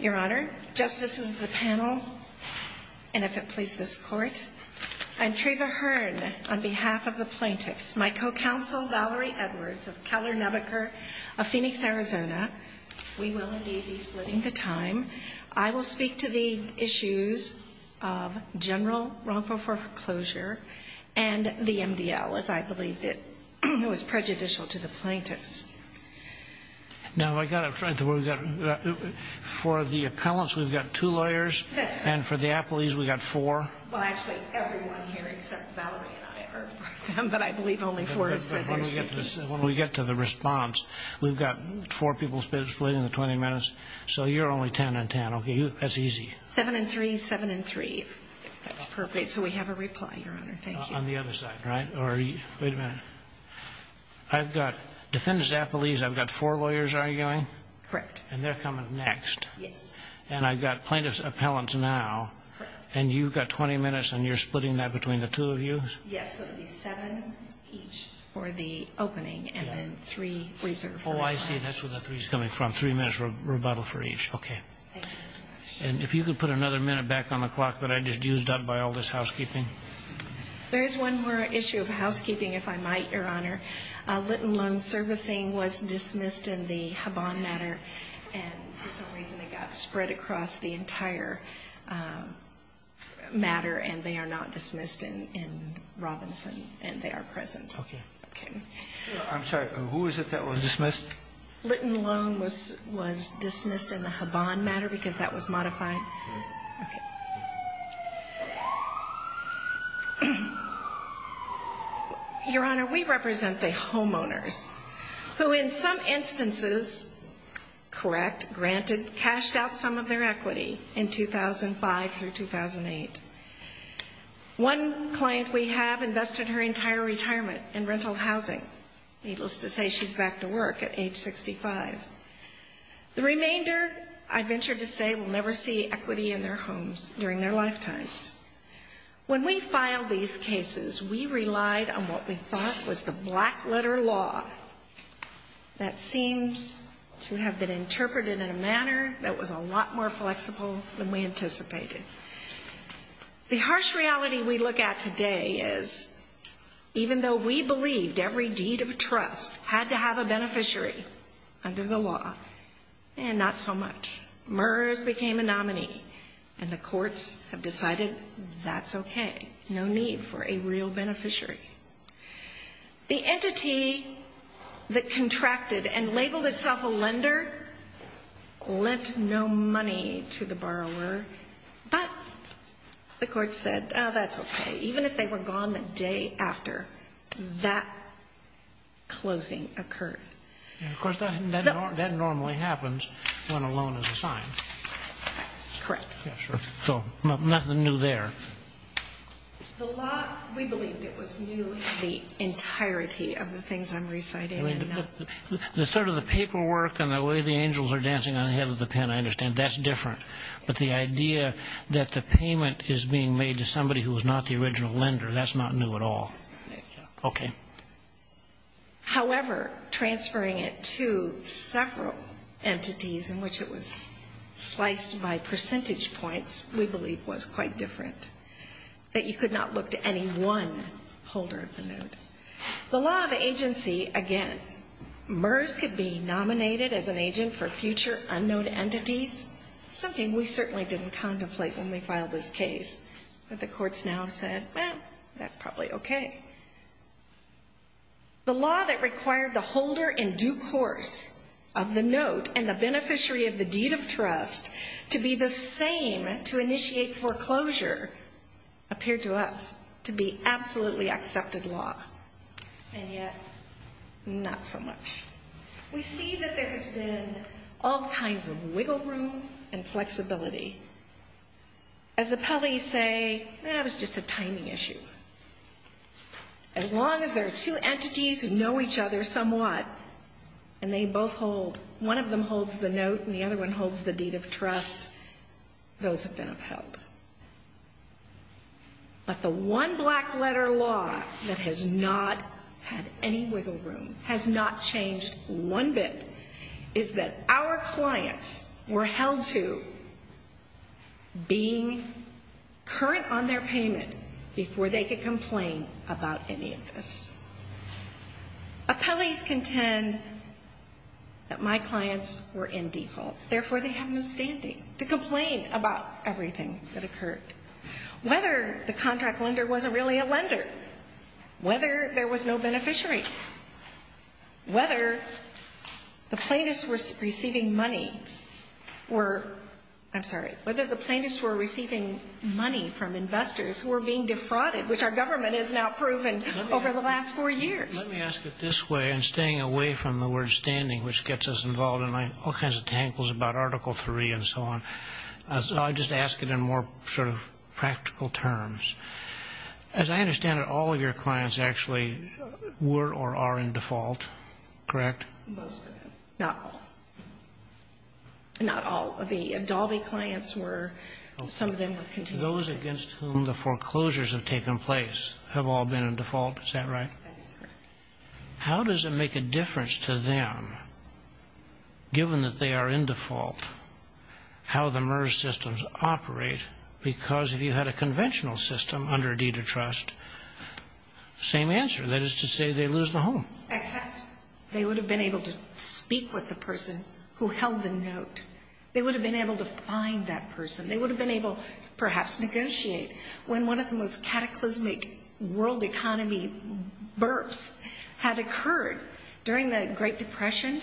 Your Honor, justices of the panel, and if it pleases this Court, I'm Treva Hearn on behalf of the plaintiffs, my co-counsel Valerie Edwards of Keller Nebaker of Phoenix, Arizona. We will indeed be splitting the time. I will speak to the issues of general wrongful foreclosure and the MDL, as I believed it was prejudicial to the plaintiffs. For the appellants, we've got two lawyers, and for the appellees, we've got four. Well, actually, everyone here except Valerie and I are with them, but I believe only four are sitting. When we get to the response, we've got four people splitting the 20 minutes, so you're only 10 and 10. That's easy. Seven and three, seven and three, if that's appropriate. So we have a reply, Your Honor. Thank you. On the other side, right? Wait a minute. I've got defendants, appellees, I've got four lawyers arguing. Correct. And they're coming next. Yes. And I've got plaintiffs, appellants now. Correct. And you've got 20 minutes, and you're splitting that between the two of you? Yes, so it would be seven each for the opening and then three reserved for reply. Oh, I see. That's where the three's coming from, three minutes rebuttal for each. Okay. Thank you very much. And if you could put another minute back on the clock that I just used up by all this housekeeping. There is one more issue of housekeeping, if I might, Your Honor. Litton Loan Servicing was dismissed in the Habon matter, and for some reason it got spread across the entire matter, and they are not dismissed in Robinson, and they are present. Okay. Okay. I'm sorry, who is it that was dismissed? Litton Loan was dismissed in the Habon matter because that was modified. Okay. Okay. Your Honor, we represent the homeowners who in some instances, correct, granted, cashed out some of their equity in 2005 through 2008. One client we have invested her entire retirement in rental housing. Needless to say, she's back to work at age 65. The remainder, I venture to say, will never see equity in their homes during their lifetimes. When we filed these cases, we relied on what we thought was the black letter law that seems to have been interpreted in a manner that was a lot more flexible than we anticipated. The harsh reality we look at today is even though we believed every deed of trust had to have a beneficiary under the law, not so much. MERS became a nominee, and the courts have decided that's okay. No need for a real beneficiary. The entity that contracted and labeled itself a lender lent no money to the borrower, but the courts said, oh, that's okay. Even if they were gone the day after, that closing occurred. Of course, that normally happens when a loan is assigned. Correct. Yeah, sure. So nothing new there. The law, we believed it was new in the entirety of the things I'm reciting. I mean, the sort of the paperwork and the way the angels are dancing on the head of the pen, I understand, that's different. But the idea that the payment is being made to somebody who was not the original lender, that's not new at all. Okay. However, transferring it to several entities in which it was sliced by percentage points, we believe was quite different, that you could not look to any one holder of the note. The law of agency, again, MERS could be nominated as an agent for future unknown entities, something we certainly didn't contemplate when we filed this case. But the courts now have said, well, that's probably okay. The law that required the holder in due course of the note and the beneficiary of the deed of trust to be the same to initiate foreclosure appeared to us to be absolutely accepted law. And yet, not so much. We see that there has been all kinds of wiggle room and flexibility. As appellees say, that was just a tiny issue. As long as there are two entities who know each other somewhat and they both hold, one of them holds the note and the other one holds the deed of trust, those have been upheld. But the one black letter law that has not had any wiggle room, has not changed one bit, is that our clients were held to being current on their payment before they could complain about any of this. Appellees contend that my clients were in default. Therefore, they have no standing to complain about everything that occurred. Whether the contract lender wasn't really a lender, whether there was no beneficiary, whether the plaintiffs were receiving money from investors who were being defrauded, which our government has now proven over the last four years. Let me ask it this way, and staying away from the word standing, which gets us involved in all kinds of tangles about Article III and so on. So I'll just ask it in more sort of practical terms. As I understand it, all of your clients actually were or are in default, correct? Most of them. Not all. Not all. The Dalby clients were. Some of them were continued. Those against whom the foreclosures have taken place have all been in default. Is that right? That is correct. How does it make a difference to them, given that they are in default, how the MERS systems operate? Because if you had a conventional system under deed of trust, same answer. That is to say they lose the home. Except they would have been able to speak with the person who held the note. They would have been able to find that person. They would have been able to perhaps negotiate. When one of the most cataclysmic world economy burps had occurred during the Great Depression,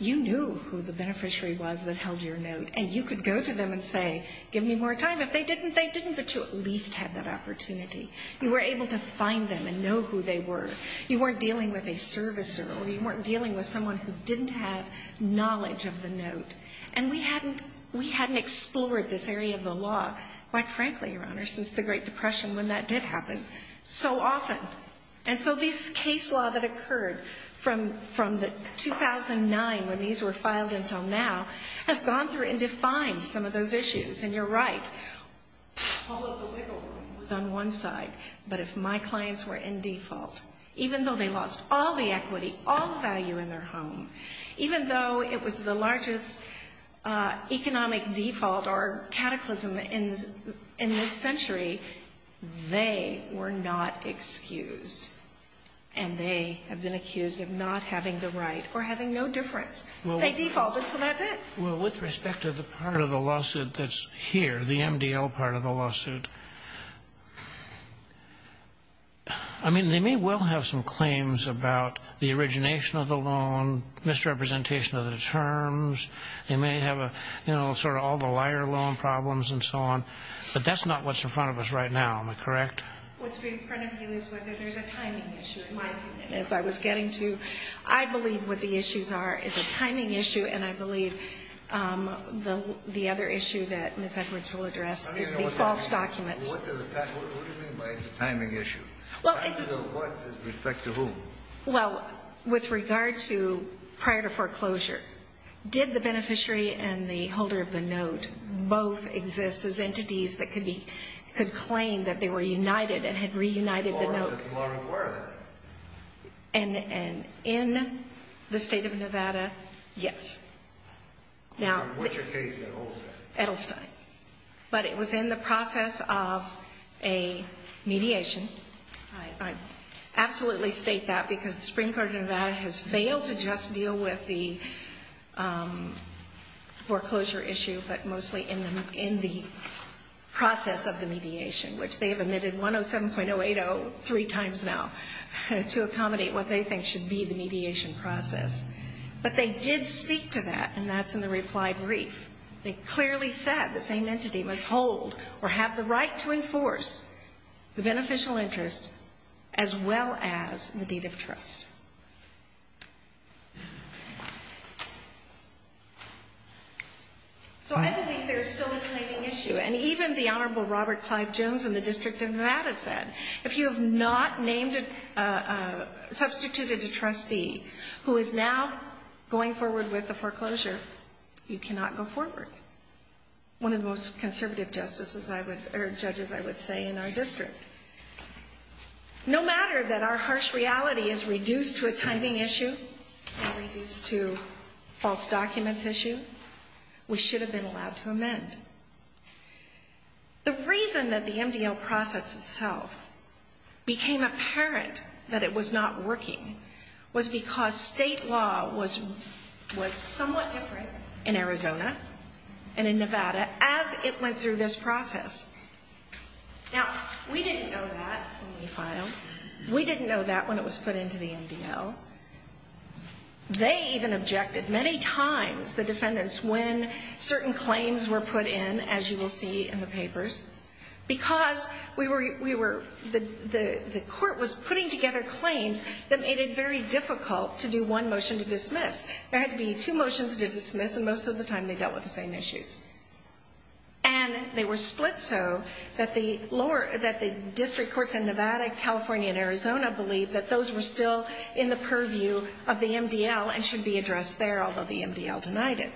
you knew who the beneficiary was that held your note, and you could go to them and say, give me more time. If they didn't, they didn't. But you at least had that opportunity. You were able to find them and know who they were. You weren't dealing with a servicer, or you weren't dealing with someone who didn't have knowledge of the note. And we hadn't explored this area of the law, quite frankly, Your Honor, since the Great Depression when that did happen so often. And so these case law that occurred from 2009 when these were filed until now have gone through and defined some of those issues, and you're right. All of the wiggle room was on one side, but if my clients were in default, even though they lost all the equity, all the value in their home, even though it was the largest economic default or cataclysm in this century, they were not excused, and they have been accused of not having the right or having no difference. They defaulted, so that's it. Well, with respect to the part of the lawsuit that's here, the MDL part of the lawsuit, I mean, they may well have some claims about the origination of the loan, misrepresentation of the terms. They may have a, you know, sort of all the liar loan problems and so on, but that's not what's in front of us right now. Am I correct? What's in front of you is whether there's a timing issue, in my opinion. As I was getting to, I believe what the issues are is a timing issue, and I believe the other issue that Ms. Edwards will address is the false documents. What do you mean by it's a timing issue? Well, it's a – Timing of what with respect to whom? Well, with regard to prior to foreclosure, did the beneficiary and the holder of the note both exist as entities that could claim that they were united and had reunited the note? Or were they? And in the state of Nevada, yes. Now – In which case, Edelstein? Edelstein. But it was in the process of a mediation. I absolutely state that because the Supreme Court of Nevada has failed to just deal with the foreclosure issue, but mostly in the process of the mediation, which they have omitted 107.080 three times now to accommodate what they think should be the mediation process. But they did speak to that, and that's in the reply brief. They clearly said the same entity must hold or have the right to enforce the beneficial interest, as well as the deed of trust. So I believe there is still a timing issue. And even the Honorable Robert Clive Jones in the District of Nevada said, If you have not substituted a trustee who is now going forward with the foreclosure, you cannot go forward. One of the most conservative judges, I would say, in our district. No matter that our harsh reality is reduced to a timing issue, or reduced to a false documents issue, we should have been allowed to amend. The reason that the MDL process itself became apparent that it was not working was because state law was somewhat different in Arizona and in Nevada as it went through this process. Now, we didn't know that when we filed. We didn't know that when it was put into the MDL. They even objected many times, the defendants, when certain claims were put in, as you will see in the papers, because the court was putting together claims that made it very difficult to do one motion to dismiss. There had to be two motions to dismiss, and most of the time they dealt with the same issues. And they were split so that the district courts in Nevada, California, and Arizona believed that those were still in the purview of the MDL and should be addressed there, although the MDL denied it.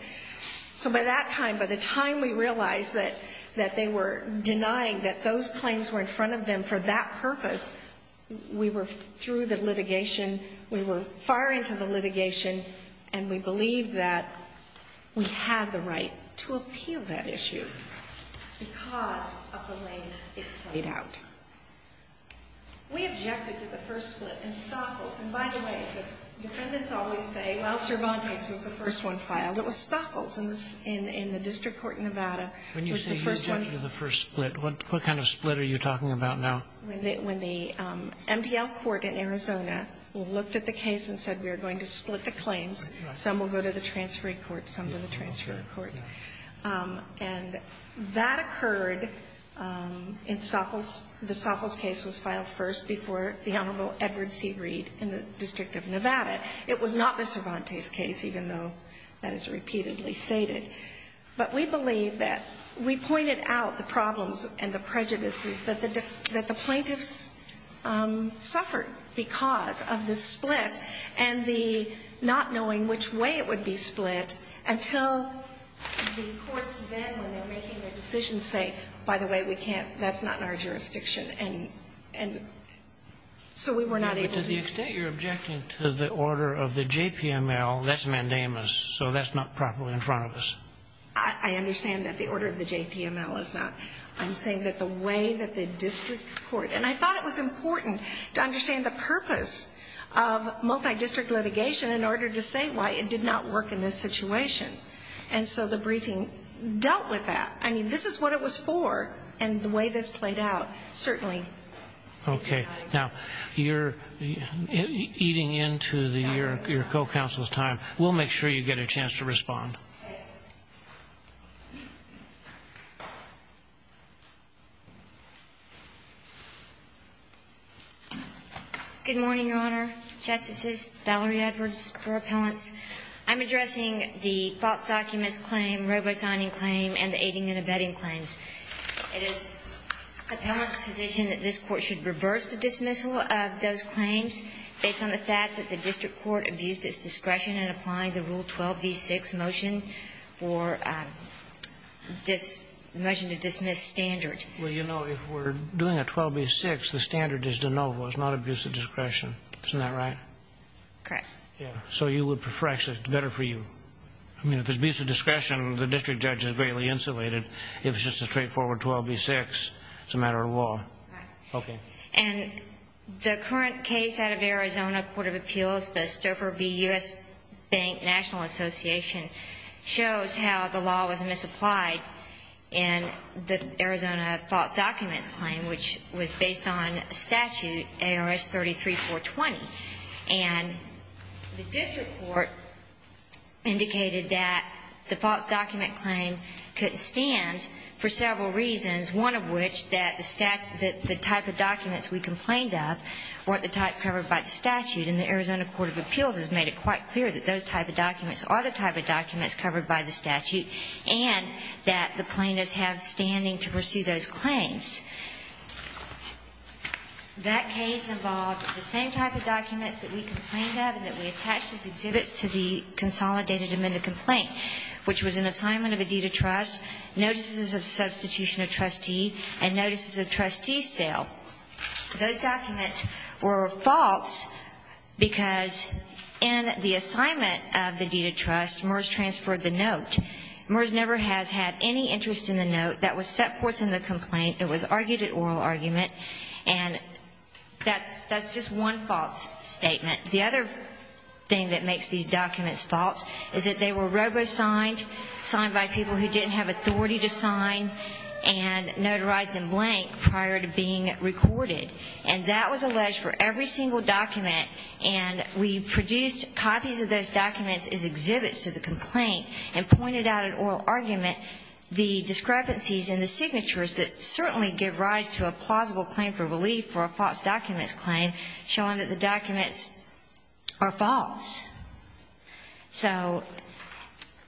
So by that time, by the time we realized that they were denying that those claims were in front of them for that purpose, we were through the litigation, we were far into the litigation, and we believed that we had the right to appeal that issue because of the way it played out. We objected to the first split in Stoffels. And by the way, the defendants always say, well, Cervantes was the first one filed. It was Stoffels in the district court in Nevada. When you say you objected to the first split, what kind of split are you talking about now? When the MDL court in Arizona looked at the case and said, we are going to split the claims. Some will go to the transferring court, some to the transferring court. And that occurred in Stoffels. The Stoffels case was filed first before the Honorable Edward C. Reed in the District of Nevada. It was not the Cervantes case, even though that is repeatedly stated. But we believe that we pointed out the problems and the prejudices that the plaintiffs suffered because of the split and the not knowing which way it would be split until the courts then, when they're making their decisions, say, by the way, we can't, that's not in our jurisdiction. And so we were not able to. But to the extent you're objecting to the order of the JPML, that's mandamus. So that's not properly in front of us. I understand that the order of the JPML is not. I'm saying that the way that the district court, and I thought it was important to understand the purpose of multi-district litigation in order to say why it did not work in this situation. And so the briefing dealt with that. I mean, this is what it was for and the way this played out, certainly. Okay. Now, eating into your co-counsel's time, we'll make sure you get a chance to respond. Good morning, Your Honor, Justices, Valerie Edwards for appellants. I'm addressing the false documents claim, robo-signing claim, and the aiding and abetting claims. It is appellant's position that this Court should reverse the dismissal of those claims based on the fact that the district court abused its discretion in applying the Rule 12b6 motion for the motion to dismiss standard. Well, you know, if we're doing a 12b6, the standard is de novo. It's not abuse of discretion. Isn't that right? Correct. Yeah. So you would prefer, actually, it's better for you. I mean, if it's abuse of discretion, the district judge is greatly insulated. If it's just a straightforward 12b6, it's a matter of law. Right. Okay. And the current case out of Arizona Court of Appeals, the Stouffer v. U.S. Bank National Association, shows how the law was misapplied in the Arizona false documents claim, which was based on statute ARS 33-420. And the district court indicated that the false document claim couldn't stand for several reasons, one of which that the type of documents we complained of weren't the type covered by the statute. And the Arizona Court of Appeals has made it quite clear that those type of documents are the type of documents covered by the statute and that the plaintiffs have standing to pursue those claims. That case involved the same type of documents that we complained of and that we attached as exhibits to the consolidated amended complaint, which was an assignment of a deed of trust, notices of substitution of trustee, and notices of trustee sale. Those documents were false because in the assignment of the deed of trust, MERS transferred the note. MERS never has had any interest in the note that was set forth in the complaint. It was argued at oral argument. And that's just one false statement. The other thing that makes these documents false is that they were robo-signed, signed by people who didn't have authority to sign, and notarized in blank prior to being recorded. And that was alleged for every single document. And we produced copies of those documents as exhibits to the complaint and pointed out at oral argument the discrepancies in the signatures that certainly give rise to a plausible claim for relief for a false documents claim, showing that the documents are false. So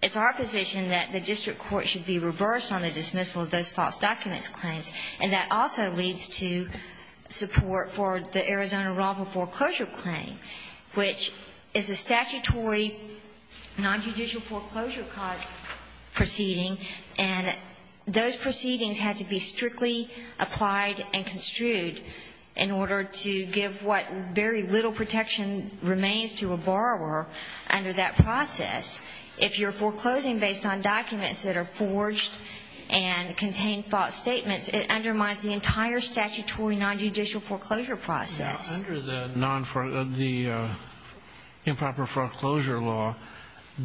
it's our position that the district court should be reversed on the dismissal of those false documents claims. And that also leads to support for the Arizona Raffle Foreclosure Claim, which is a statutory nonjudicial foreclosure cause proceeding, and those proceedings have to be strictly applied and construed in order to give what very little protection remains to a borrower under that process. If you're foreclosing based on documents that are forged and contain false statements, it undermines the entire statutory nonjudicial foreclosure process. Under the improper foreclosure law,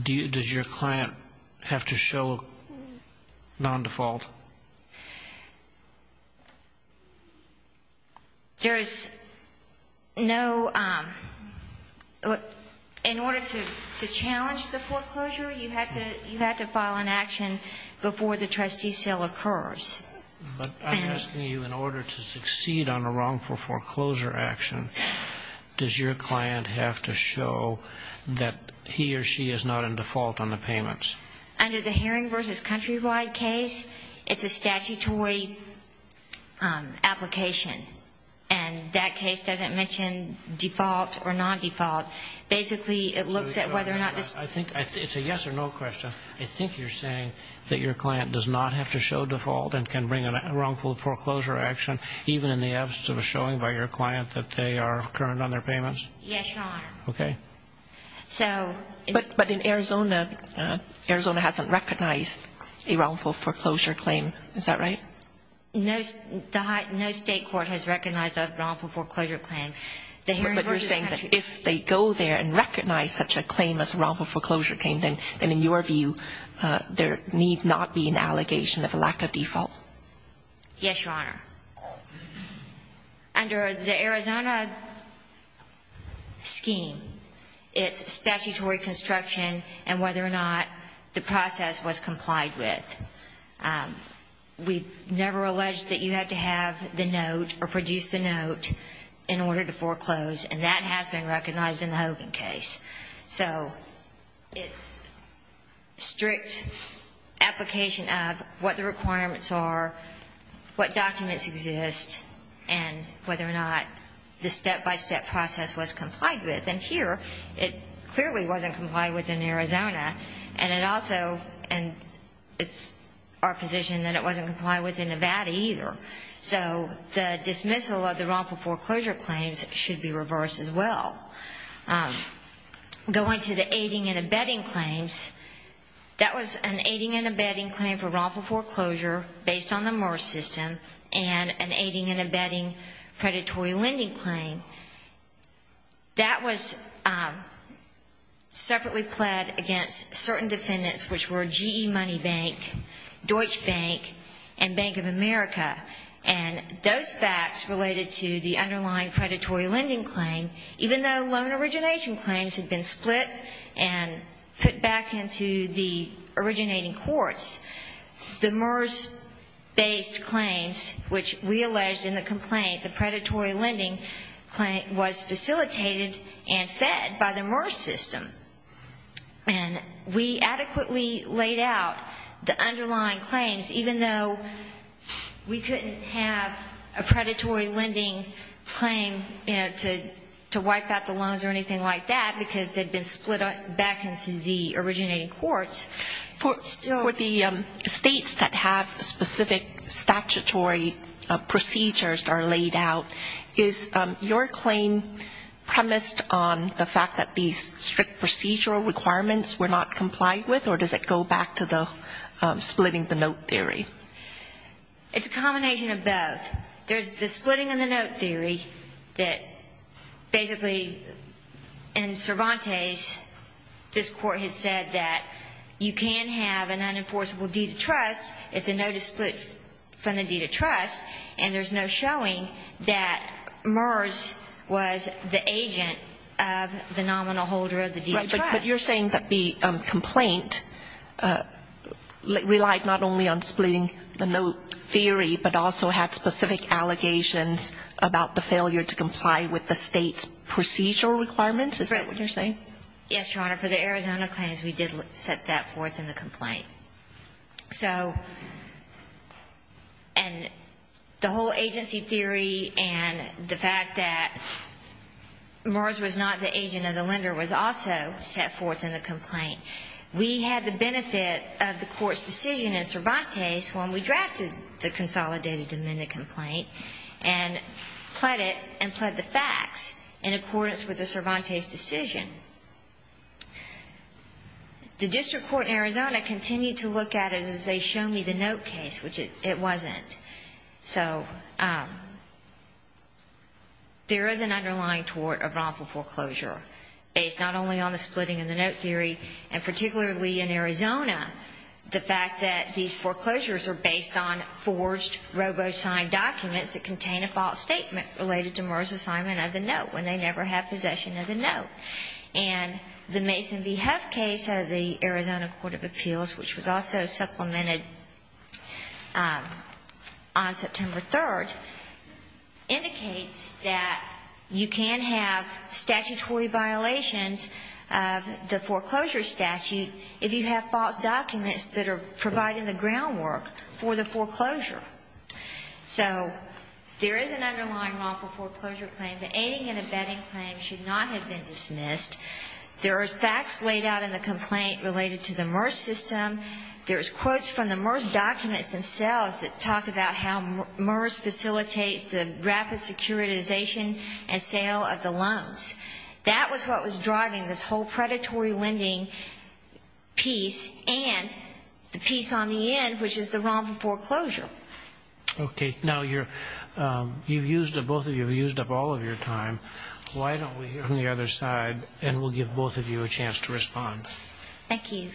does your client have to show non-default? There is no ñ in order to challenge the foreclosure, you have to file an action before the trustee sale occurs. But I'm asking you, in order to succeed on a wrongful foreclosure action, does your client have to show that he or she is not in default on the payments? Under the Hearing v. Countrywide case, it's a statutory application. And that case doesn't mention default or non-default. Basically, it looks at whether or not this ñ I think ñ it's a yes or no question. I think you're saying that your client does not have to show default and can bring a wrongful foreclosure action, even in the absence of a showing by your client that they are current on their payments? Yes, Your Honor. Okay. So ñ But in Arizona, Arizona hasn't recognized a wrongful foreclosure claim. Is that right? No state court has recognized a wrongful foreclosure claim. But you're saying that if they go there and recognize such a claim as a wrongful foreclosure claim, then, in your view, there need not be an allegation of a lack of default? Yes, Your Honor. Under the Arizona scheme, it's statutory construction and whether or not the process was complied with. We've never alleged that you had to have the note or produce the note in order to foreclose, and that has been recognized in the Hogan case. So it's strict application of what the requirements are, what documents exist, and whether or not the step-by-step process was complied with. And here, it clearly wasn't complied with in Arizona, and it also ñ and it's our position that it wasn't complied with in Nevada either. So the dismissal of the wrongful foreclosure claims should be reversed as well. Going to the aiding and abetting claims, that was an aiding and abetting claim for wrongful foreclosure based on the MERS system and an aiding and abetting predatory lending claim. That was separately pled against certain defendants, which were GE Money Bank, Deutsche Bank, and Bank of America. And those facts related to the underlying predatory lending claim, even though loan origination claims had been split and put back into the originating courts, the MERS-based claims, which we alleged in the complaint, the predatory lending claim was facilitated and fed by the MERS system. And we adequately laid out the underlying claims, even though we couldn't have a predatory lending claim, you know, to wipe out the loans or anything like that, because they'd been split back into the originating courts. For the states that have specific statutory procedures that are laid out, is your claim premised on the fact that these strict procedural requirements were not complied with, or does it go back to the splitting the note theory? It's a combination of both. There's the splitting of the note theory that basically in Cervantes, this Court had said that you can have an unenforceable deed of trust if the note is split from the deed of trust, and there's no showing that MERS was the agent of the nominal holder of the deed of trust. But you're saying that the complaint relied not only on splitting the note theory, but also had specific allegations about the failure to comply with the State's procedural requirements? Is that what you're saying? Yes, Your Honor. For the Arizona claims, we did set that forth in the complaint. So the whole agency theory and the fact that MERS was not the agent of the lender was also set forth in the complaint. We had the benefit of the Court's decision in Cervantes when we drafted the consolidated amended complaint and pled the facts in accordance with the Cervantes decision. The district court in Arizona continued to look at it as a show-me-the-note case, which it wasn't. So there is an underlying tort of wrongful foreclosure based not only on the splitting of the note theory and particularly in Arizona, the fact that these foreclosures are based on forged robo-signed documents that contain a false statement related to MERS assignment of the note when they never have possession of the note. And the Mason v. Heff case of the Arizona Court of Appeals, which was also supplemented on September 3rd, indicates that you can have statutory violations of the foreclosure statute if you have false documents that are providing the groundwork for the foreclosure. So there is an underlying wrongful foreclosure claim. The aiding and abetting claim should not have been dismissed. There are facts laid out in the complaint related to the MERS system. There's quotes from the MERS documents themselves that talk about how MERS facilitates the rapid securitization and sale of the loans. That was what was driving this whole predatory lending piece and the piece on the end, which is the wrongful foreclosure. Okay. Now, you've used up all of your time. Why don't we hear from the other side, and we'll give both of you a chance to respond. Thank you.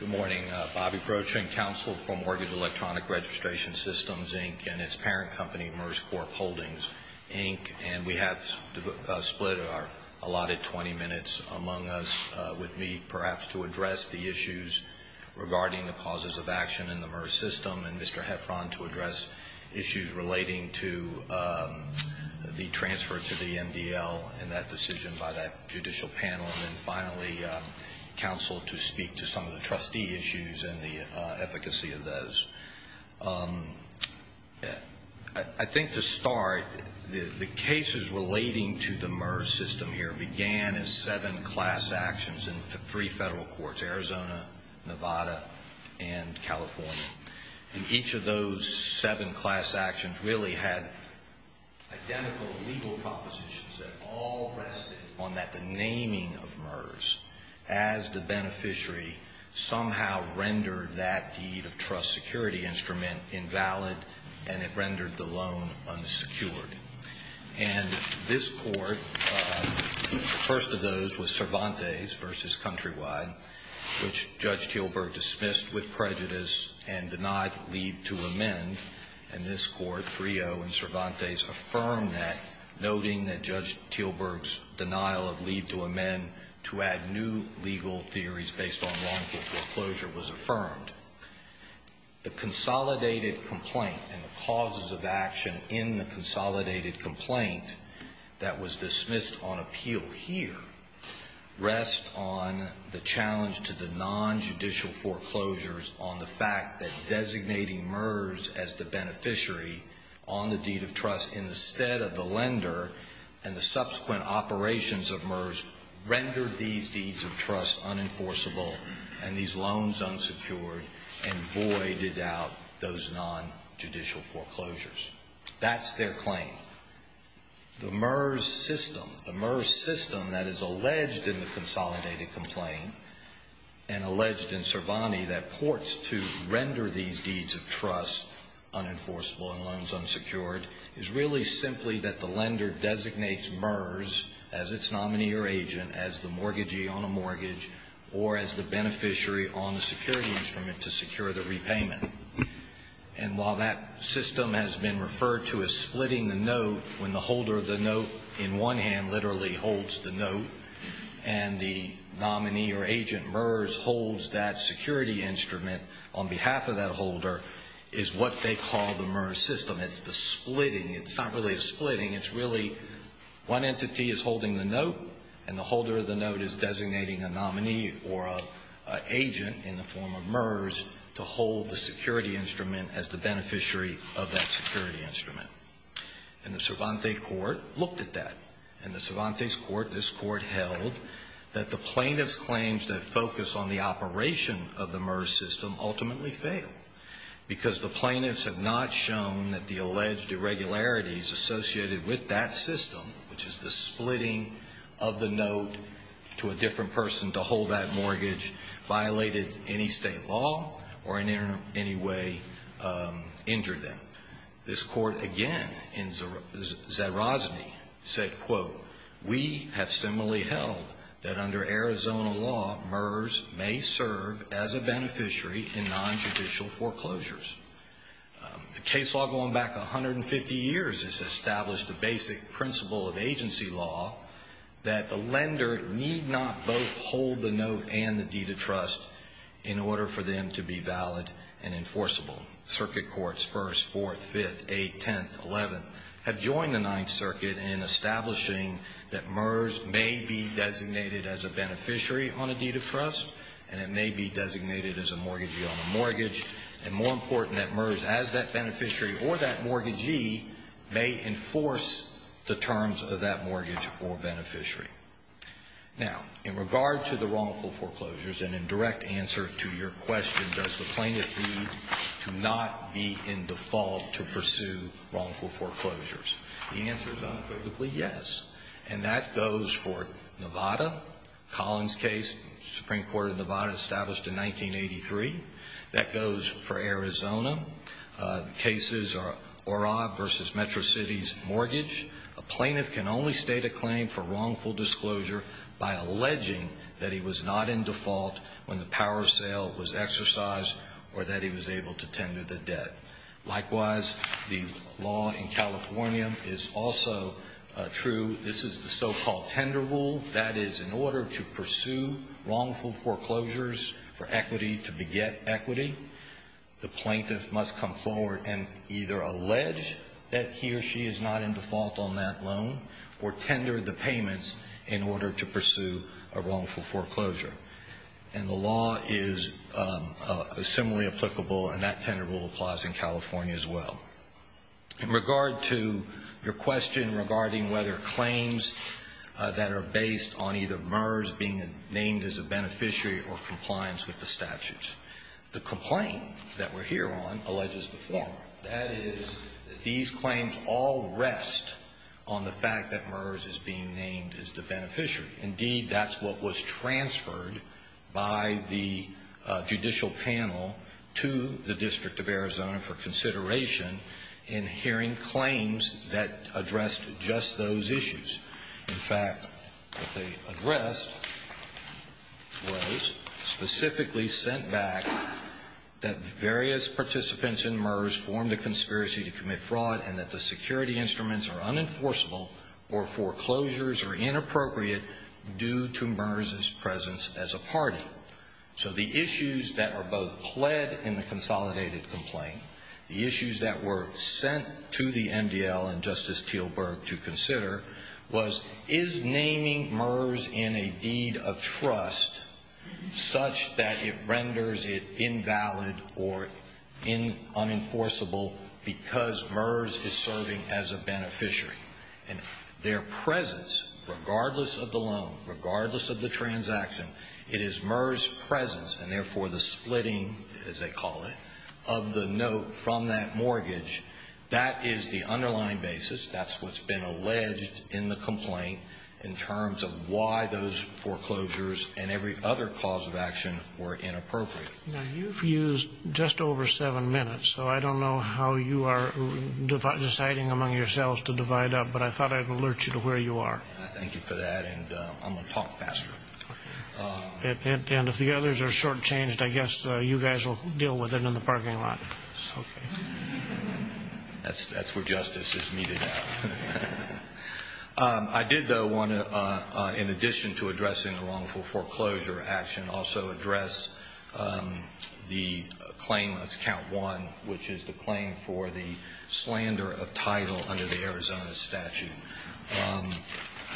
Good morning. Bobby Broach, Inc., counsel for Mortgage Electronic Registration Systems, Inc., and its parent company, MERS Corp. Holdings, Inc., and we have split our allotted 20 minutes among us with me, perhaps, to address the issues regarding the causes of action in the MERS system and Mr. Heffron to address issues relating to the transfer to the MDL and that decision by that judicial panel, and then finally counsel to speak to some of the trustee issues and the efficacy of those. I think to start, the cases relating to the MERS system here began as seven class actions in three federal courts, Arizona, Nevada, and California. And each of those seven class actions really had identical legal propositions that all rested on the naming of MERS as the beneficiary somehow rendered that deed of trust security instrument invalid and it rendered the loan unsecured. And this Court, the first of those was Cervantes v. Countrywide, which Judge Kielburg dismissed with prejudice and denied leave to amend. And this Court, 3-0 in Cervantes, affirmed that, noting that Judge Kielburg's denial of leave to amend to add new legal theories based on wrongful foreclosure was affirmed. The consolidated complaint and the causes of action in the consolidated complaint that was dismissed on appeal here rest on the challenge to the nonjudicial foreclosures on the fact that designating MERS as the beneficiary on the deed of trust instead of the lender and the subsequent operations of MERS rendered these deeds of trust unenforceable and these loans unsecured and voided out those nonjudicial foreclosures. That's their claim. The MERS system, the MERS system that is alleged in the consolidated complaint and alleged in Cervantes that ports to render these deeds of trust unenforceable and loans unsecured is really simply that the lender designates MERS as its nominee or agent, as the mortgagee on a mortgage, or as the beneficiary on the security instrument to secure the repayment. And while that system has been referred to as splitting the note when the holder of the note in one hand literally holds the note and the nominee or agent MERS holds that security instrument on behalf of that holder is what they call the MERS system. It's the splitting. It's not really a splitting. It's really one entity is holding the note and the holder of the note is designating a nominee or an agent in the form of MERS to hold the security instrument as the beneficiary of that security instrument. And the Cervantes court looked at that. In the Cervantes court, this court held that the plaintiff's claims that focus on the operation of the MERS system ultimately fail because the plaintiffs have not shown that the alleged irregularities associated with that system, which is the splitting of the note to a different person to hold that mortgage, violated any state law or in any way injured them. This court again in Zerosny said, quote, we have similarly held that under Arizona law, MERS may serve as a beneficiary in nonjudicial foreclosures. The case law going back 150 years has established the basic principle of agency law that the lender need not both hold the note and the deed of trust in order for them to be valid and enforceable. Circuit courts, First, Fourth, Fifth, Eighth, Tenth, Eleventh, have joined the Ninth Circuit in establishing that MERS may be designated as a beneficiary on a deed of trust and it may be designated as a mortgagee on a mortgage and more important that MERS as that beneficiary or that mortgagee may enforce the terms of that mortgage or beneficiary. Now, in regard to the wrongful foreclosures and in direct answer to your question, does the plaintiff need to not be in default to pursue wrongful foreclosures? The answer is unequivocally yes. And that goes for Nevada. Collins case, Supreme Court of Nevada established in 1983. That goes for Arizona. The cases are Orob versus Metro City's mortgage. A plaintiff can only state a claim for wrongful disclosure by alleging that he was not in default when the power sale was exercised or that he was able to tender the debt. Likewise, the law in California is also true. This is the so-called tender rule. That is, in order to pursue wrongful foreclosures for equity to beget equity, the plaintiff must come forward and either allege that he or she is not in default on that loan or tender the payments in order to pursue a wrongful foreclosure. And the law is similarly applicable, and that tender rule applies in California as well. In regard to your question regarding whether claims that are based on either MERS being named as a beneficiary or compliance with the statutes, the complaint that we're here on alleges the former. That is, these claims all rest on the fact that MERS is being named as the beneficiary. Indeed, that's what was transferred by the judicial panel to the District of Arizona for consideration in hearing claims that addressed just those issues. In fact, what they addressed was specifically sent back that various participants in MERS formed a conspiracy to commit fraud and that the security instruments are unenforceable or foreclosures are inappropriate due to MERS's presence as a party. So the issues that are both pled in the consolidated complaint, the issues that were sent to the MDL and Justice Teelberg to consider was, is naming MERS in a deed of trust such that it renders it invalid or unenforceable because MERS is serving as a beneficiary? And their presence, regardless of the loan, regardless of the transaction, it is MERS's presence and, therefore, the splitting, as they call it, of the note from that mortgage. That is the underlying basis. That's what's been alleged in the complaint in terms of why those foreclosures and every other cause of action were inappropriate. Now, you've used just over seven minutes, so I don't know how you are deciding among yourselves to divide up, but I thought I'd alert you to where you are. Thank you for that, and I'm going to talk faster. And if the others are shortchanged, I guess you guys will deal with it in the parking lot. That's where justice is meted out. I did, though, want to, in addition to addressing the wrongful foreclosure action, also address the claim that's count one, which is the claim for the slander of title under the Arizona statute.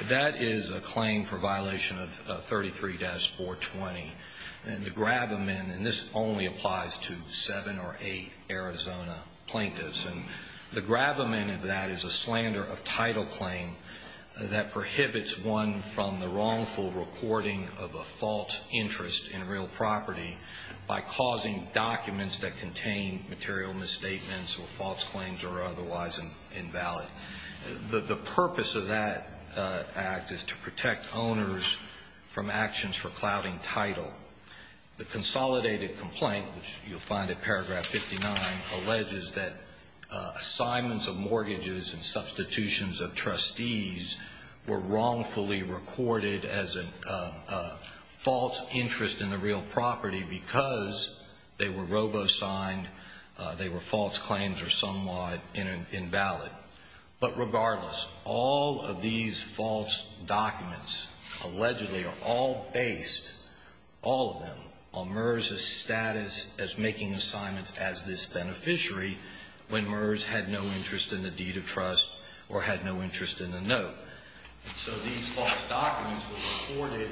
That is a claim for violation of 33-420. And the gravamen, and this only applies to seven or eight Arizona plaintiffs, and the gravamen of that is a slander of title claim that prohibits one from the wrongful recording of a false interest in real property by causing documents that contain material misstatements or false claims or are otherwise invalid. The purpose of that act is to protect owners from actions for clouding title. The consolidated complaint, which you'll find in paragraph 59, alleges that assignments of mortgages and substitutions of trustees were wrongfully recorded as a false interest in a real property because they were robo-signed, they were false claims, or somewhat invalid. But regardless, all of these false documents allegedly are all based, all of them, on MERS's status as making assignments as this beneficiary when MERS had no interest in the deed of trust or had no interest in the note. And so these false documents were recorded,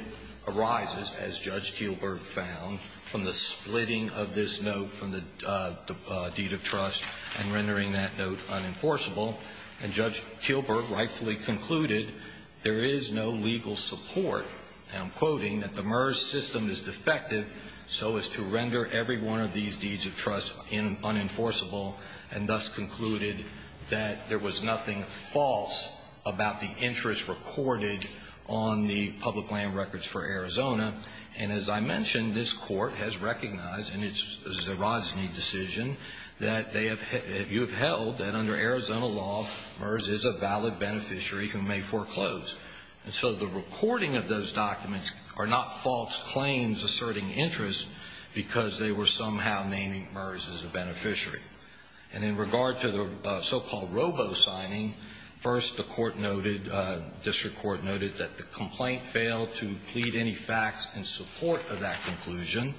arises, as Judge Kielburg found, from the splitting of this note from the deed of trust and rendering that note unenforceable. And Judge Kielburg rightfully concluded there is no legal support, and I'm quoting, that the MERS system is defective so as to render every one of these deeds of trust unenforceable and thus concluded that there was nothing false about the interest recorded on the public land records for Arizona. And as I mentioned, this Court has recognized in its Zerosny decision that you have held that under Arizona law, MERS is a valid beneficiary who may foreclose. And so the recording of those documents are not false claims asserting interest because they were somehow naming MERS as a beneficiary. And in regard to the so-called robo-signing, first the court noted, district court noted that the complaint failed to plead any facts in support of that conclusion.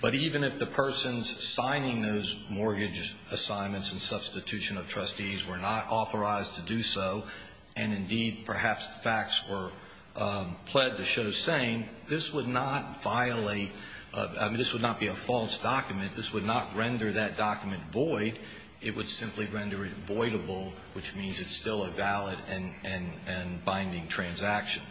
But even if the persons signing those mortgage assignments and substitution of trustees were not authorized to do so, and indeed perhaps the facts were pled to show same, this would not violate, I mean, this would not be a false document. This would not render that document void. It would simply render it voidable, which means it's still a valid and binding transaction.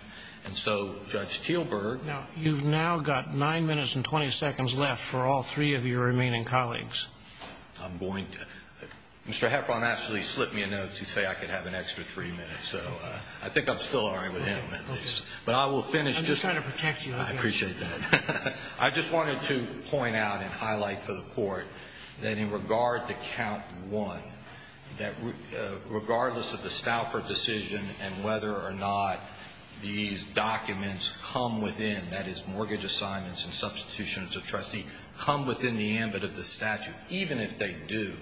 And so Judge Kielburg. Now, you've now got 9 minutes and 20 seconds left for all three of your remaining colleagues. I'm going to. Mr. Heffron actually slipped me a note to say I could have an extra three minutes. So I think I'm still all right with him. But I will finish. I'm just trying to protect you. I appreciate that. I just wanted to point out and highlight for the Court that in regard to Count 1, that regardless of the Stauffer decision and whether or not these documents come within, that is mortgage assignments and substitutions of trustees come within the ambit of the statute, even if they do,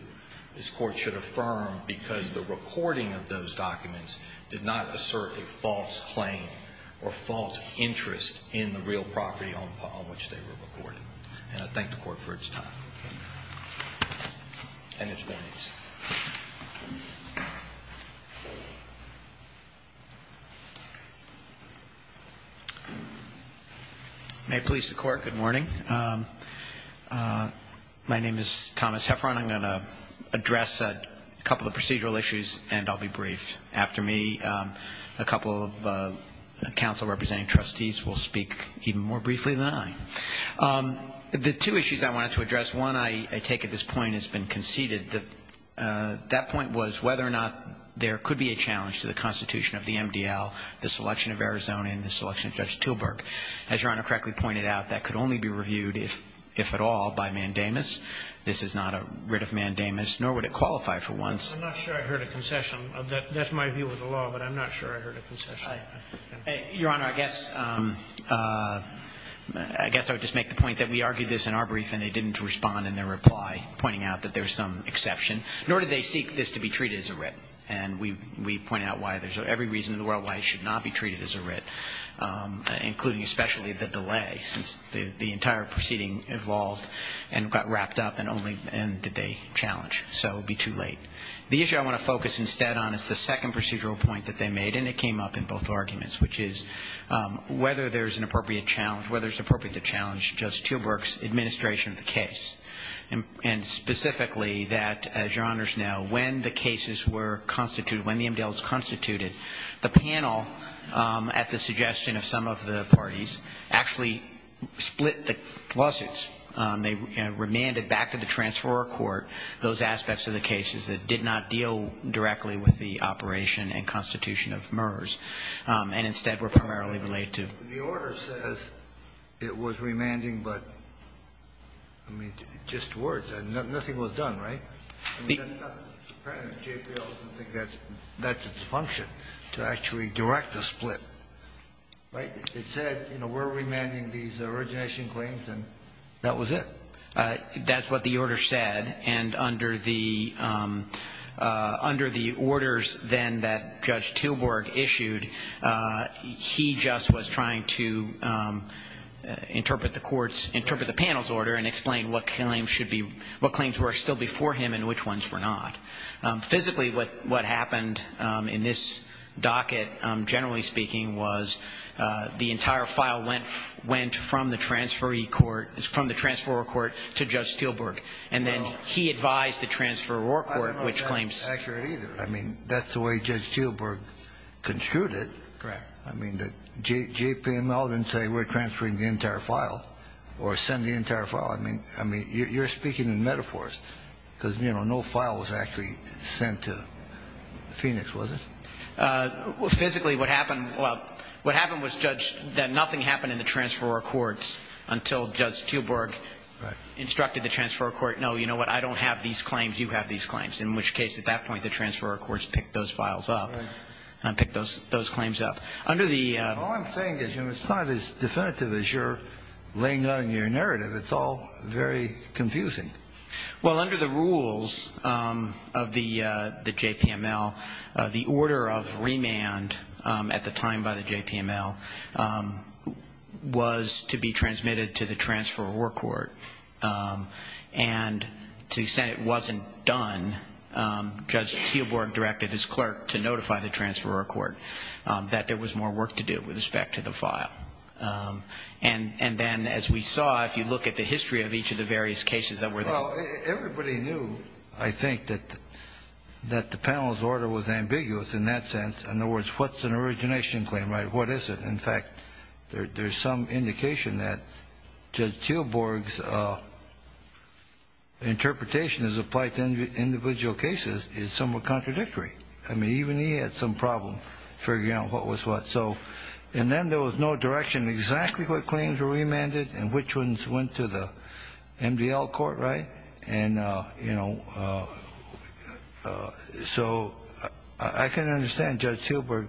this Court should affirm because the recording of those documents did not assert a false claim or false interest in the real property on which they were recorded. And I thank the Court for its time and its warnings. May it please the Court, good morning. My name is Thomas Heffron. I'm going to address a couple of procedural issues and I'll be brief. After me, a couple of counsel representing trustees will speak even more briefly than I. The two issues I wanted to address, one I take at this point has been conceded. That point was whether or not there could be a challenge to the Constitution of the MDL, the selection of Arizona and the selection of Judge Tilburg. As Your Honor correctly pointed out, that could only be reviewed, if at all, by mandamus. This is not a writ of mandamus, nor would it qualify for once. I'm not sure I heard a concession. That's my view of the law, but I'm not sure I heard a concession. Your Honor, I guess I would just make the point that we argued this in our brief and they didn't respond in their reply, pointing out that there's some exception. Nor did they seek this to be treated as a writ. And we pointed out why there's every reason in the world why it should not be treated as a writ, including especially the delay, since the entire proceeding evolved and got wrapped up and only then did they challenge. So it would be too late. The issue I want to focus instead on is the second procedural point that they made, and it came up in both arguments, which is whether there's an appropriate challenge, whether it's appropriate to challenge Judge Tilburg's administration of the case. And specifically that, as Your Honor's know, when the cases were constituted, when the Mdels constituted, the panel, at the suggestion of some of the parties, actually split the lawsuits. They remanded back to the transferor court those aspects of the cases that did not deal directly with the operation and constitution of MERS, and instead were primarily related to. The order says it was remanding, but, I mean, just words. Nothing was done, right? I mean, that's not the premise. JPL doesn't think that's its function, to actually direct a split, right? It said, you know, we're remanding these origination claims, and that was it. That's what the order said. And under the orders then that Judge Tilburg issued, he just was trying to interpret the panel's order and explain what claims were still before him and which ones were not. Physically, what happened in this docket, generally speaking, was the entire file went from the transferor court to Judge Tilburg. And then he advised the transferor court, which claims. I don't know if that's accurate either. I mean, that's the way Judge Tilburg construed it. Correct. I mean, JPL didn't say we're transferring the entire file or send the entire file. I mean, you're speaking in metaphors, because, you know, no file was actually sent to Phoenix, was it? Physically, what happened was, Judge, that nothing happened in the transferor courts until Judge Tilburg instructed the transferor court, no, you know what? I don't have these claims. You have these claims. In which case, at that point, the transferor courts picked those files up and picked those claims up. All I'm saying is, you know, it's not as definitive as you're laying out in your narrative. It's all very confusing. Well, under the rules of the JPML, the order of remand at the time by the JPML was to be transmitted to the transferor court. And to the extent it wasn't done, Judge Tilburg directed his clerk to notify the transferor court that there was more work to do with respect to the file. And then, as we saw, if you look at the history of each of the various cases that were there Well, everybody knew, I think, that the panel's order was ambiguous in that sense. In other words, what's an origination claim, right? What is it? In fact, there's some indication that Judge Tilburg's interpretation as applied to individual cases is somewhat contradictory. I mean, even he had some problem figuring out what was what. So, and then there was no direction exactly what claims were remanded and which ones went to the MDL court, right? And, you know, so I can understand Judge Tilburg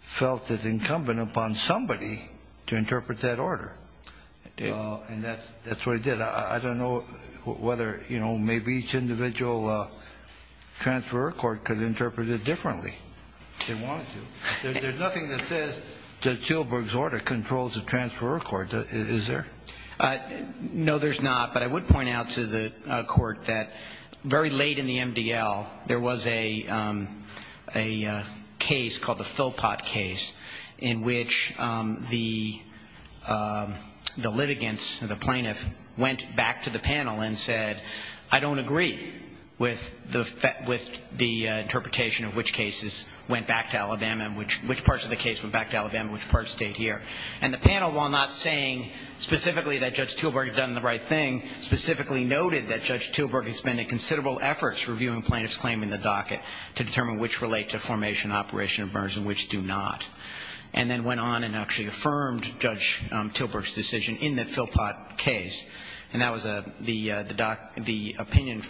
felt it incumbent upon somebody to interpret that order. It did. And that's what he did. I don't know whether, you know, maybe each individual transferor court could interpret it differently if they wanted to. There's nothing that says Judge Tilburg's order controls the transferor court, is there? No, there's not. But I would point out to the court that very late in the MDL, there was a case called the Philpot case in which the litigants, the plaintiffs, went back to the panel and said, I don't agree with the interpretation of which cases went back to Alabama, which parts of the case went back to Alabama, which parts stayed here. And the panel, while not saying specifically that Judge Tilburg had done the right thing, specifically noted that Judge Tilburg had spent considerable efforts reviewing plaintiffs' claim in the docket to determine which relate to Formation and Operation of Burns and which do not. And then went on and actually affirmed Judge Tilburg's decision in the Philpot case. And that was the opinion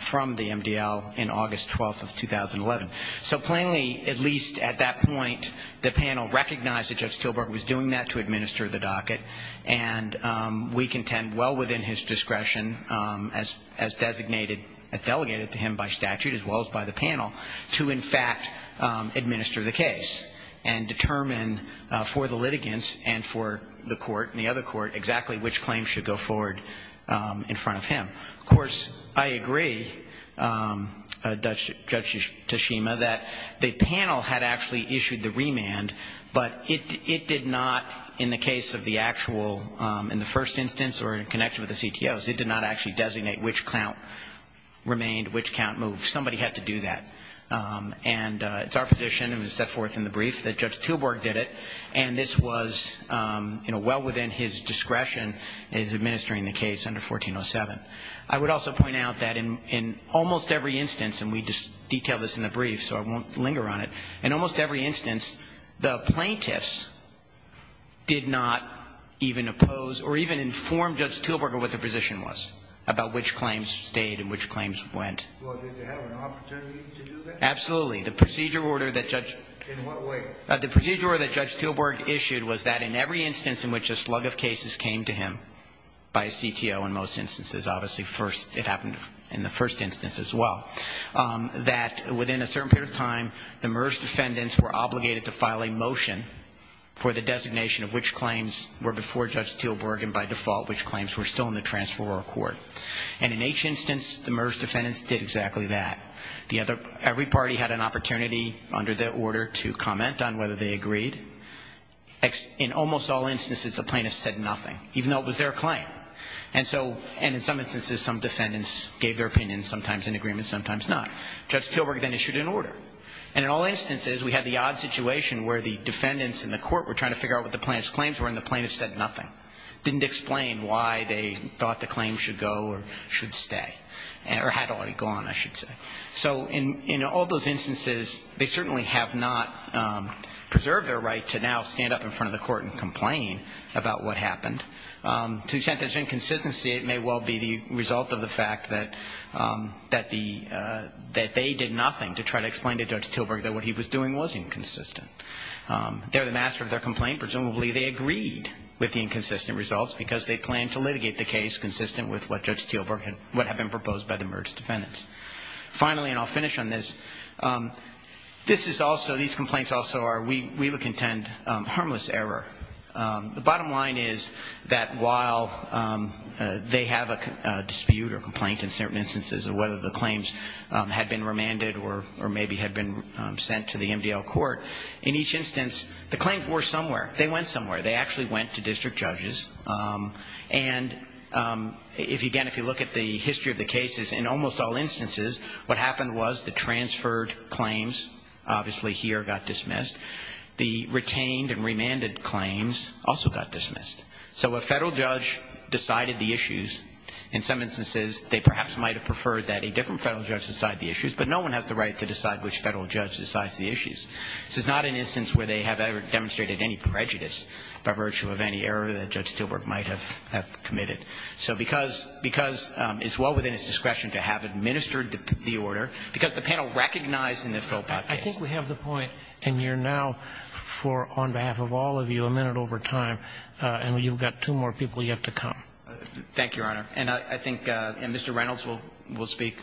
from the MDL in August 12th of 2011. So plainly, at least at that point, the panel recognized that Judge Tilburg was doing that to administer the docket. And we contend well within his discretion, as designated, as delegated to him by statute as well as by the panel, to in fact administer the case and determine for the litigants and for the court and the other court exactly which claims should go forward in front of him. Of course, I agree, Judge Tashima, that the panel had actually issued the remand, but it did not, in the case of the actual, in the first instance or in connection with the CTOs, it did not actually designate which count remained, which count moved. Somebody had to do that. And it's our position, and it was set forth in the brief, that Judge Tilburg did it. And this was, you know, well within his discretion in administering the case under 1407. I would also point out that in almost every instance, and we detail this in the brief so I won't linger on it, in almost every instance, the plaintiffs did not even oppose or even inform Judge Tilburg of what the position was about which claims stayed and which claims went. Well, did they have an opportunity to do that? Absolutely. The procedure order that Judge... In what way? The procedure order that Judge Tilburg issued was that in every instance in which a slug of cases came to him, by a CTO in most instances, obviously first, it happened in the first instance as well, that within a certain period of time, the MERS defendants were obligated to file a motion for the designation of which claims were before Judge Tilburg and by default which claims were still in the transferor court. And in each instance, the MERS defendants did exactly that. Every party had an opportunity under their order to comment on whether they agreed. In almost all instances, the plaintiffs said nothing, even though it was their claim. And so, and in some instances, some defendants gave their opinion, sometimes in agreement, sometimes not. Judge Tilburg then issued an order. And in all instances, we had the odd situation where the defendants in the court were trying to figure out what the plaintiff's claims were and the plaintiffs said nothing. Didn't explain why they thought the claims should go or should stay. Or had already gone, I should say. So in all those instances, they certainly have not preserved their right to now stand up in front of the court and complain about what happened. To the extent there's inconsistency, it may well be the result of the fact that they did nothing to try to explain to Judge Tilburg that what he was doing was inconsistent. They're the master of their complaint. Presumably they agreed with the inconsistent results because they planned to litigate the case consistent with what Judge Tilburg had, what had been proposed by the Mertz defendants. Finally, and I'll finish on this, this is also, these complaints also are, we would contend, harmless error. The bottom line is that while they have a dispute or complaint in certain instances of whether the claims had been remanded or maybe had been sent to the MDL court, in each instance, the claims were somewhere. They went somewhere. They actually went to district judges, and again, if you look at the history of the cases, in almost all instances, what happened was the transferred claims obviously here got dismissed. The retained and remanded claims also got dismissed. So a federal judge decided the issues. In some instances, they perhaps might have preferred that a different federal judge decide the issues, but no one has the right to decide which federal judge decides the issues. This is not an instance where they have ever demonstrated any prejudice by virtue of any error that Judge Tilburg might have committed. So because it's well within its discretion to have administered the order, because the panel recognized in the Philpott case. I think we have the point, and you're now for, on behalf of all of you, a minute over time, and you've got two more people yet to come. Thank you, Your Honor. And I think Mr. Reynolds will speak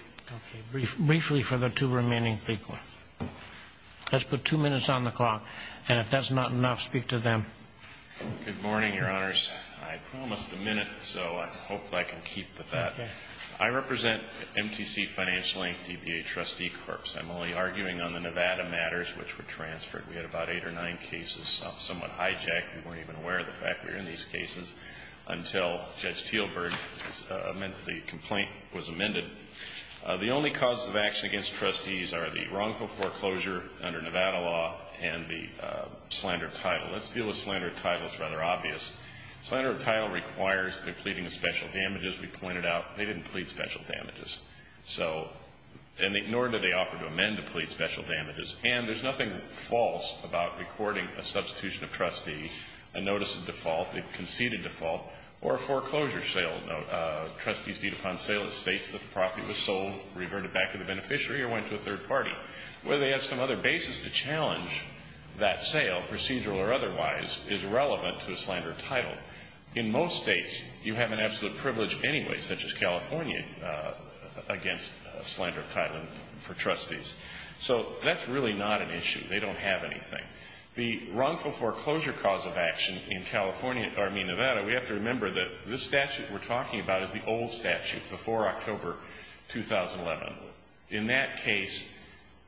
briefly for the two remaining people. Let's put two minutes on the clock, and if that's not enough, speak to them. Good morning, Your Honors. I promised a minute, so I hope I can keep the thought. I represent MTC Financial Inc., DBA Trustee Corps. I'm only arguing on the Nevada matters, which were transferred. We had about eight or nine cases somewhat hijacked. We weren't even aware of the fact we were in these cases until Judge Tilburg, the complaint was amended. The only causes of action against trustees are the wrongful foreclosure under Nevada law and the slander of title. Let's deal with slander of title. It's rather obvious. Slander of title requires the pleading of special damages. We pointed out they didn't plead special damages, nor did they offer to amend to plead special damages. And there's nothing false about recording a substitution of trustee, a notice of default, a conceded default, or a foreclosure sale. Trustees deed upon sale states that the property was sold, reverted back to the beneficiary, or went to a third party. Whether they have some other basis to challenge that sale, procedural or otherwise, is irrelevant to the slander of title. In most states, you have an absolute privilege anyway, such as California, against slander of title for trustees. So that's really not an issue. They don't have anything. The wrongful foreclosure cause of action in California, I mean Nevada, we have to be talking about is the old statute before October 2011. In that case,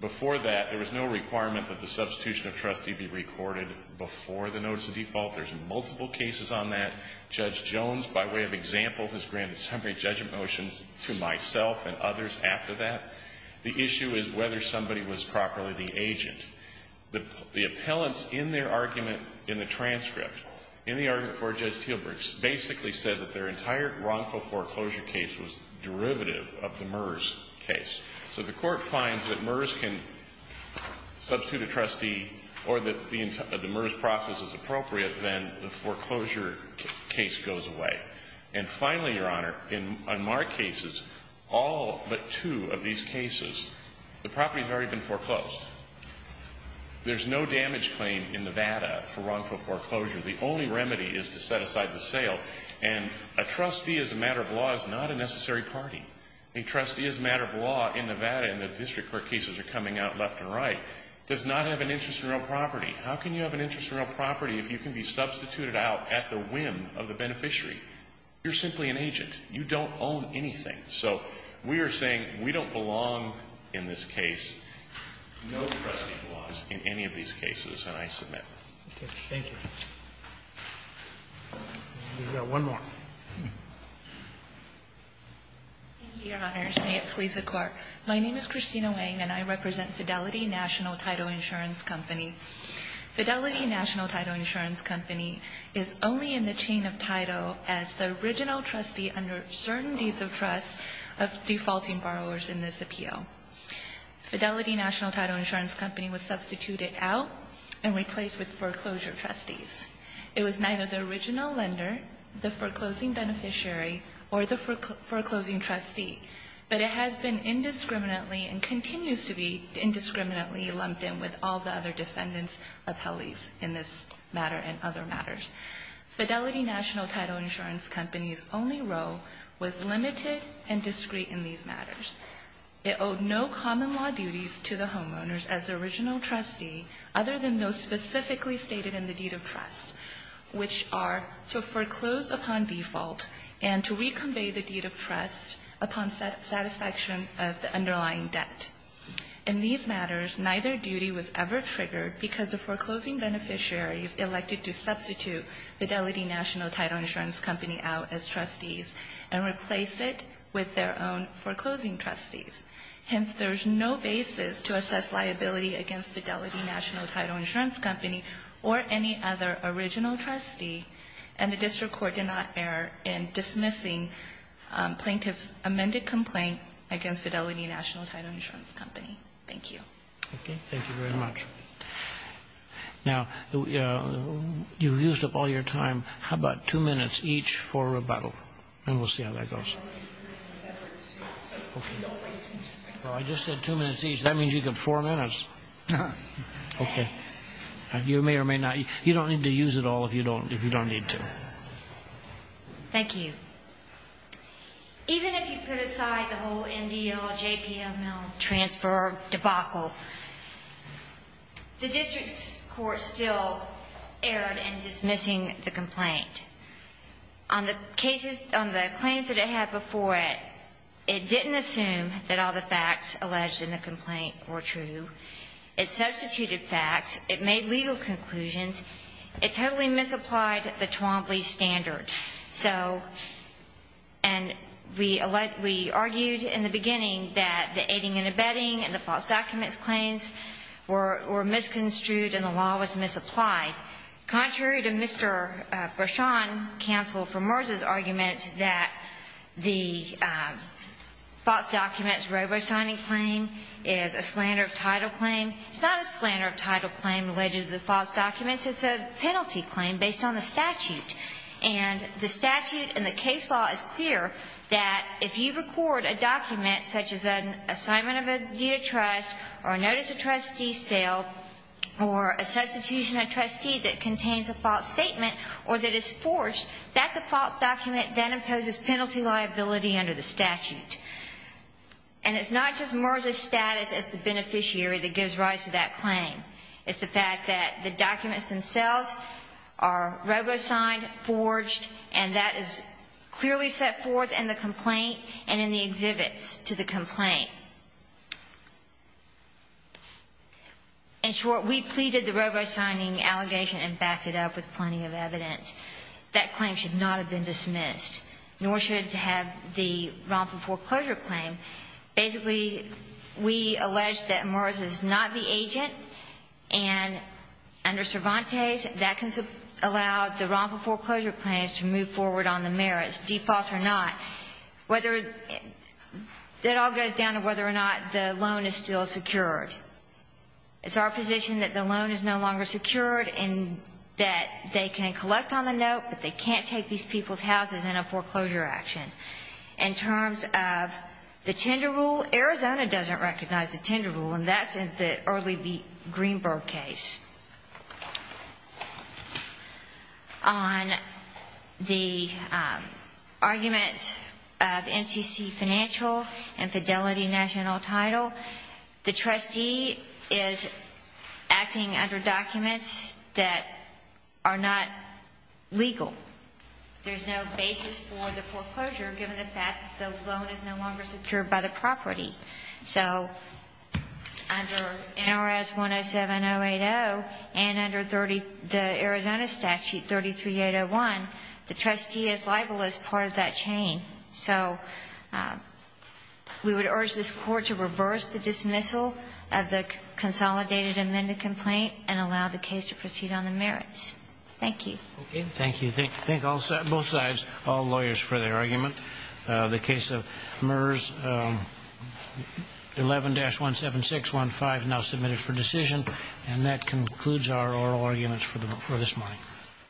before that, there was no requirement that the substitution of trustee be recorded before the notice of default. There's multiple cases on that. Judge Jones, by way of example, has granted summary judgment motions to myself and others after that. The issue is whether somebody was properly the agent. The appellants in their argument in the transcript, in the argument for Judge Teelbricks, basically said that their entire wrongful foreclosure case was derivative of the MERS case. So the court finds that MERS can substitute a trustee or that the MERS process is appropriate, then the foreclosure case goes away. And finally, Your Honor, in unmarked cases, all but two of these cases, the property has already been foreclosed. There's no damage claim in Nevada for wrongful foreclosure. The only remedy is to set aside the sale. And a trustee as a matter of law is not a necessary party. A trustee as a matter of law in Nevada, and the district court cases are coming out left and right, does not have an interest in real property. How can you have an interest in real property if you can be substituted out at the whim of the beneficiary? You're simply an agent. You don't own anything. So we are saying we don't belong in this case, no trustee belongs in any of these cases, and I submit. Thank you. We've got one more. Thank you, Your Honors. May it please the Court. My name is Christina Wang, and I represent Fidelity National Taito Insurance Company. Fidelity National Taito Insurance Company is only in the chain of Taito as the original trustee under certain deeds of trust of defaulting borrowers in this appeal. Fidelity National Taito Insurance Company was substituted out and replaced with foreclosure trustees. It was neither the original lender, the foreclosing beneficiary, or the foreclosing trustee, but it has been indiscriminately and continues to be indiscriminately lumped in with all the other defendants' appellees in this matter and other matters. Fidelity National Taito Insurance Company's only role was limited and discreet in these matters. It owed no common law duties to the homeowners as the original trustee, other than those specifically stated in the deed of trust, which are to foreclose upon default and to reconvey the deed of trust upon satisfaction of the underlying debt. In these matters, neither duty was ever triggered because the foreclosing beneficiaries elected to substitute Fidelity National Taito Insurance Company out as trustees and replace it with their own foreclosing trustees. Hence, there is no basis to assess liability against Fidelity National Taito Insurance Company or any other original trustee, and the district court did not err in dismissing plaintiff's amended complaint against Fidelity National Taito Insurance Company. Thank you. Okay. Thank you very much. Now, you used up all your time. How about two minutes each for rebuttal? And we'll see how that goes. Okay. Well, I just said two minutes each. That means you get four minutes. Okay. You may or may not. You don't need to use it all if you don't need to. Thank you. Even if you put aside the whole MDL, JPML transfer debacle, the district court still erred in dismissing the complaint. On the claims that it had before it, it didn't assume that all the facts alleged in the complaint were true. It substituted facts. It made legal conclusions. It totally misapplied the Twombly standard. So, and we argued in the beginning that the aiding and abetting and the false documents claims were misconstrued and the law was misapplied. Contrary to Mr. Breschon, counsel for Merz's argument, that the false documents robo-signing claim is a slander of title claim. It's not a slander of title claim related to the false documents. It's a penalty claim based on the statute. And the statute and the case law is clear that if you record a document such as an assignment of a deed of trust or a notice of trustee sale or a substitution of trustee that contains a false statement or that is forced, that's a false document that imposes penalty liability under the statute. And it's not just Merz's status as the beneficiary that gives rise to that claim. It's the fact that the documents themselves are robo-signed, forged, and that is clearly set forth in the complaint and in the exhibits to the complaint. In short, we pleaded the robo-signing allegation and backed it up with plenty of evidence. That claim should not have been dismissed, nor should it have the wrongful foreclosure claim. And basically, we allege that Merz is not the agent. And under Cervantes, that can allow the wrongful foreclosure claims to move forward on the merits, default or not. Whether it all goes down to whether or not the loan is still secured. It's our position that the loan is no longer secured and that they can collect on the note, but they can't take these people's houses in a foreclosure action. In terms of the tender rule, Arizona doesn't recognize the tender rule, and that's in the early Greenberg case. On the arguments of NTC financial and fidelity national title, the trustee is acting under documents that are not legal. There's no basis for the foreclosure given the fact that the loan is no longer secured by the property. So under NRS 107080 and under 30 the Arizona statute 33801, the trustee is liable as part of that chain. So we would urge this Court to reverse the dismissal of the consolidated amended complaint and allow the case to proceed on the merits. Thank you. Okay. Thank you. Thank both sides, all lawyers, for their argument. The case of MERS 11-17615 is now submitted for decision. And that concludes our oral arguments for this morning.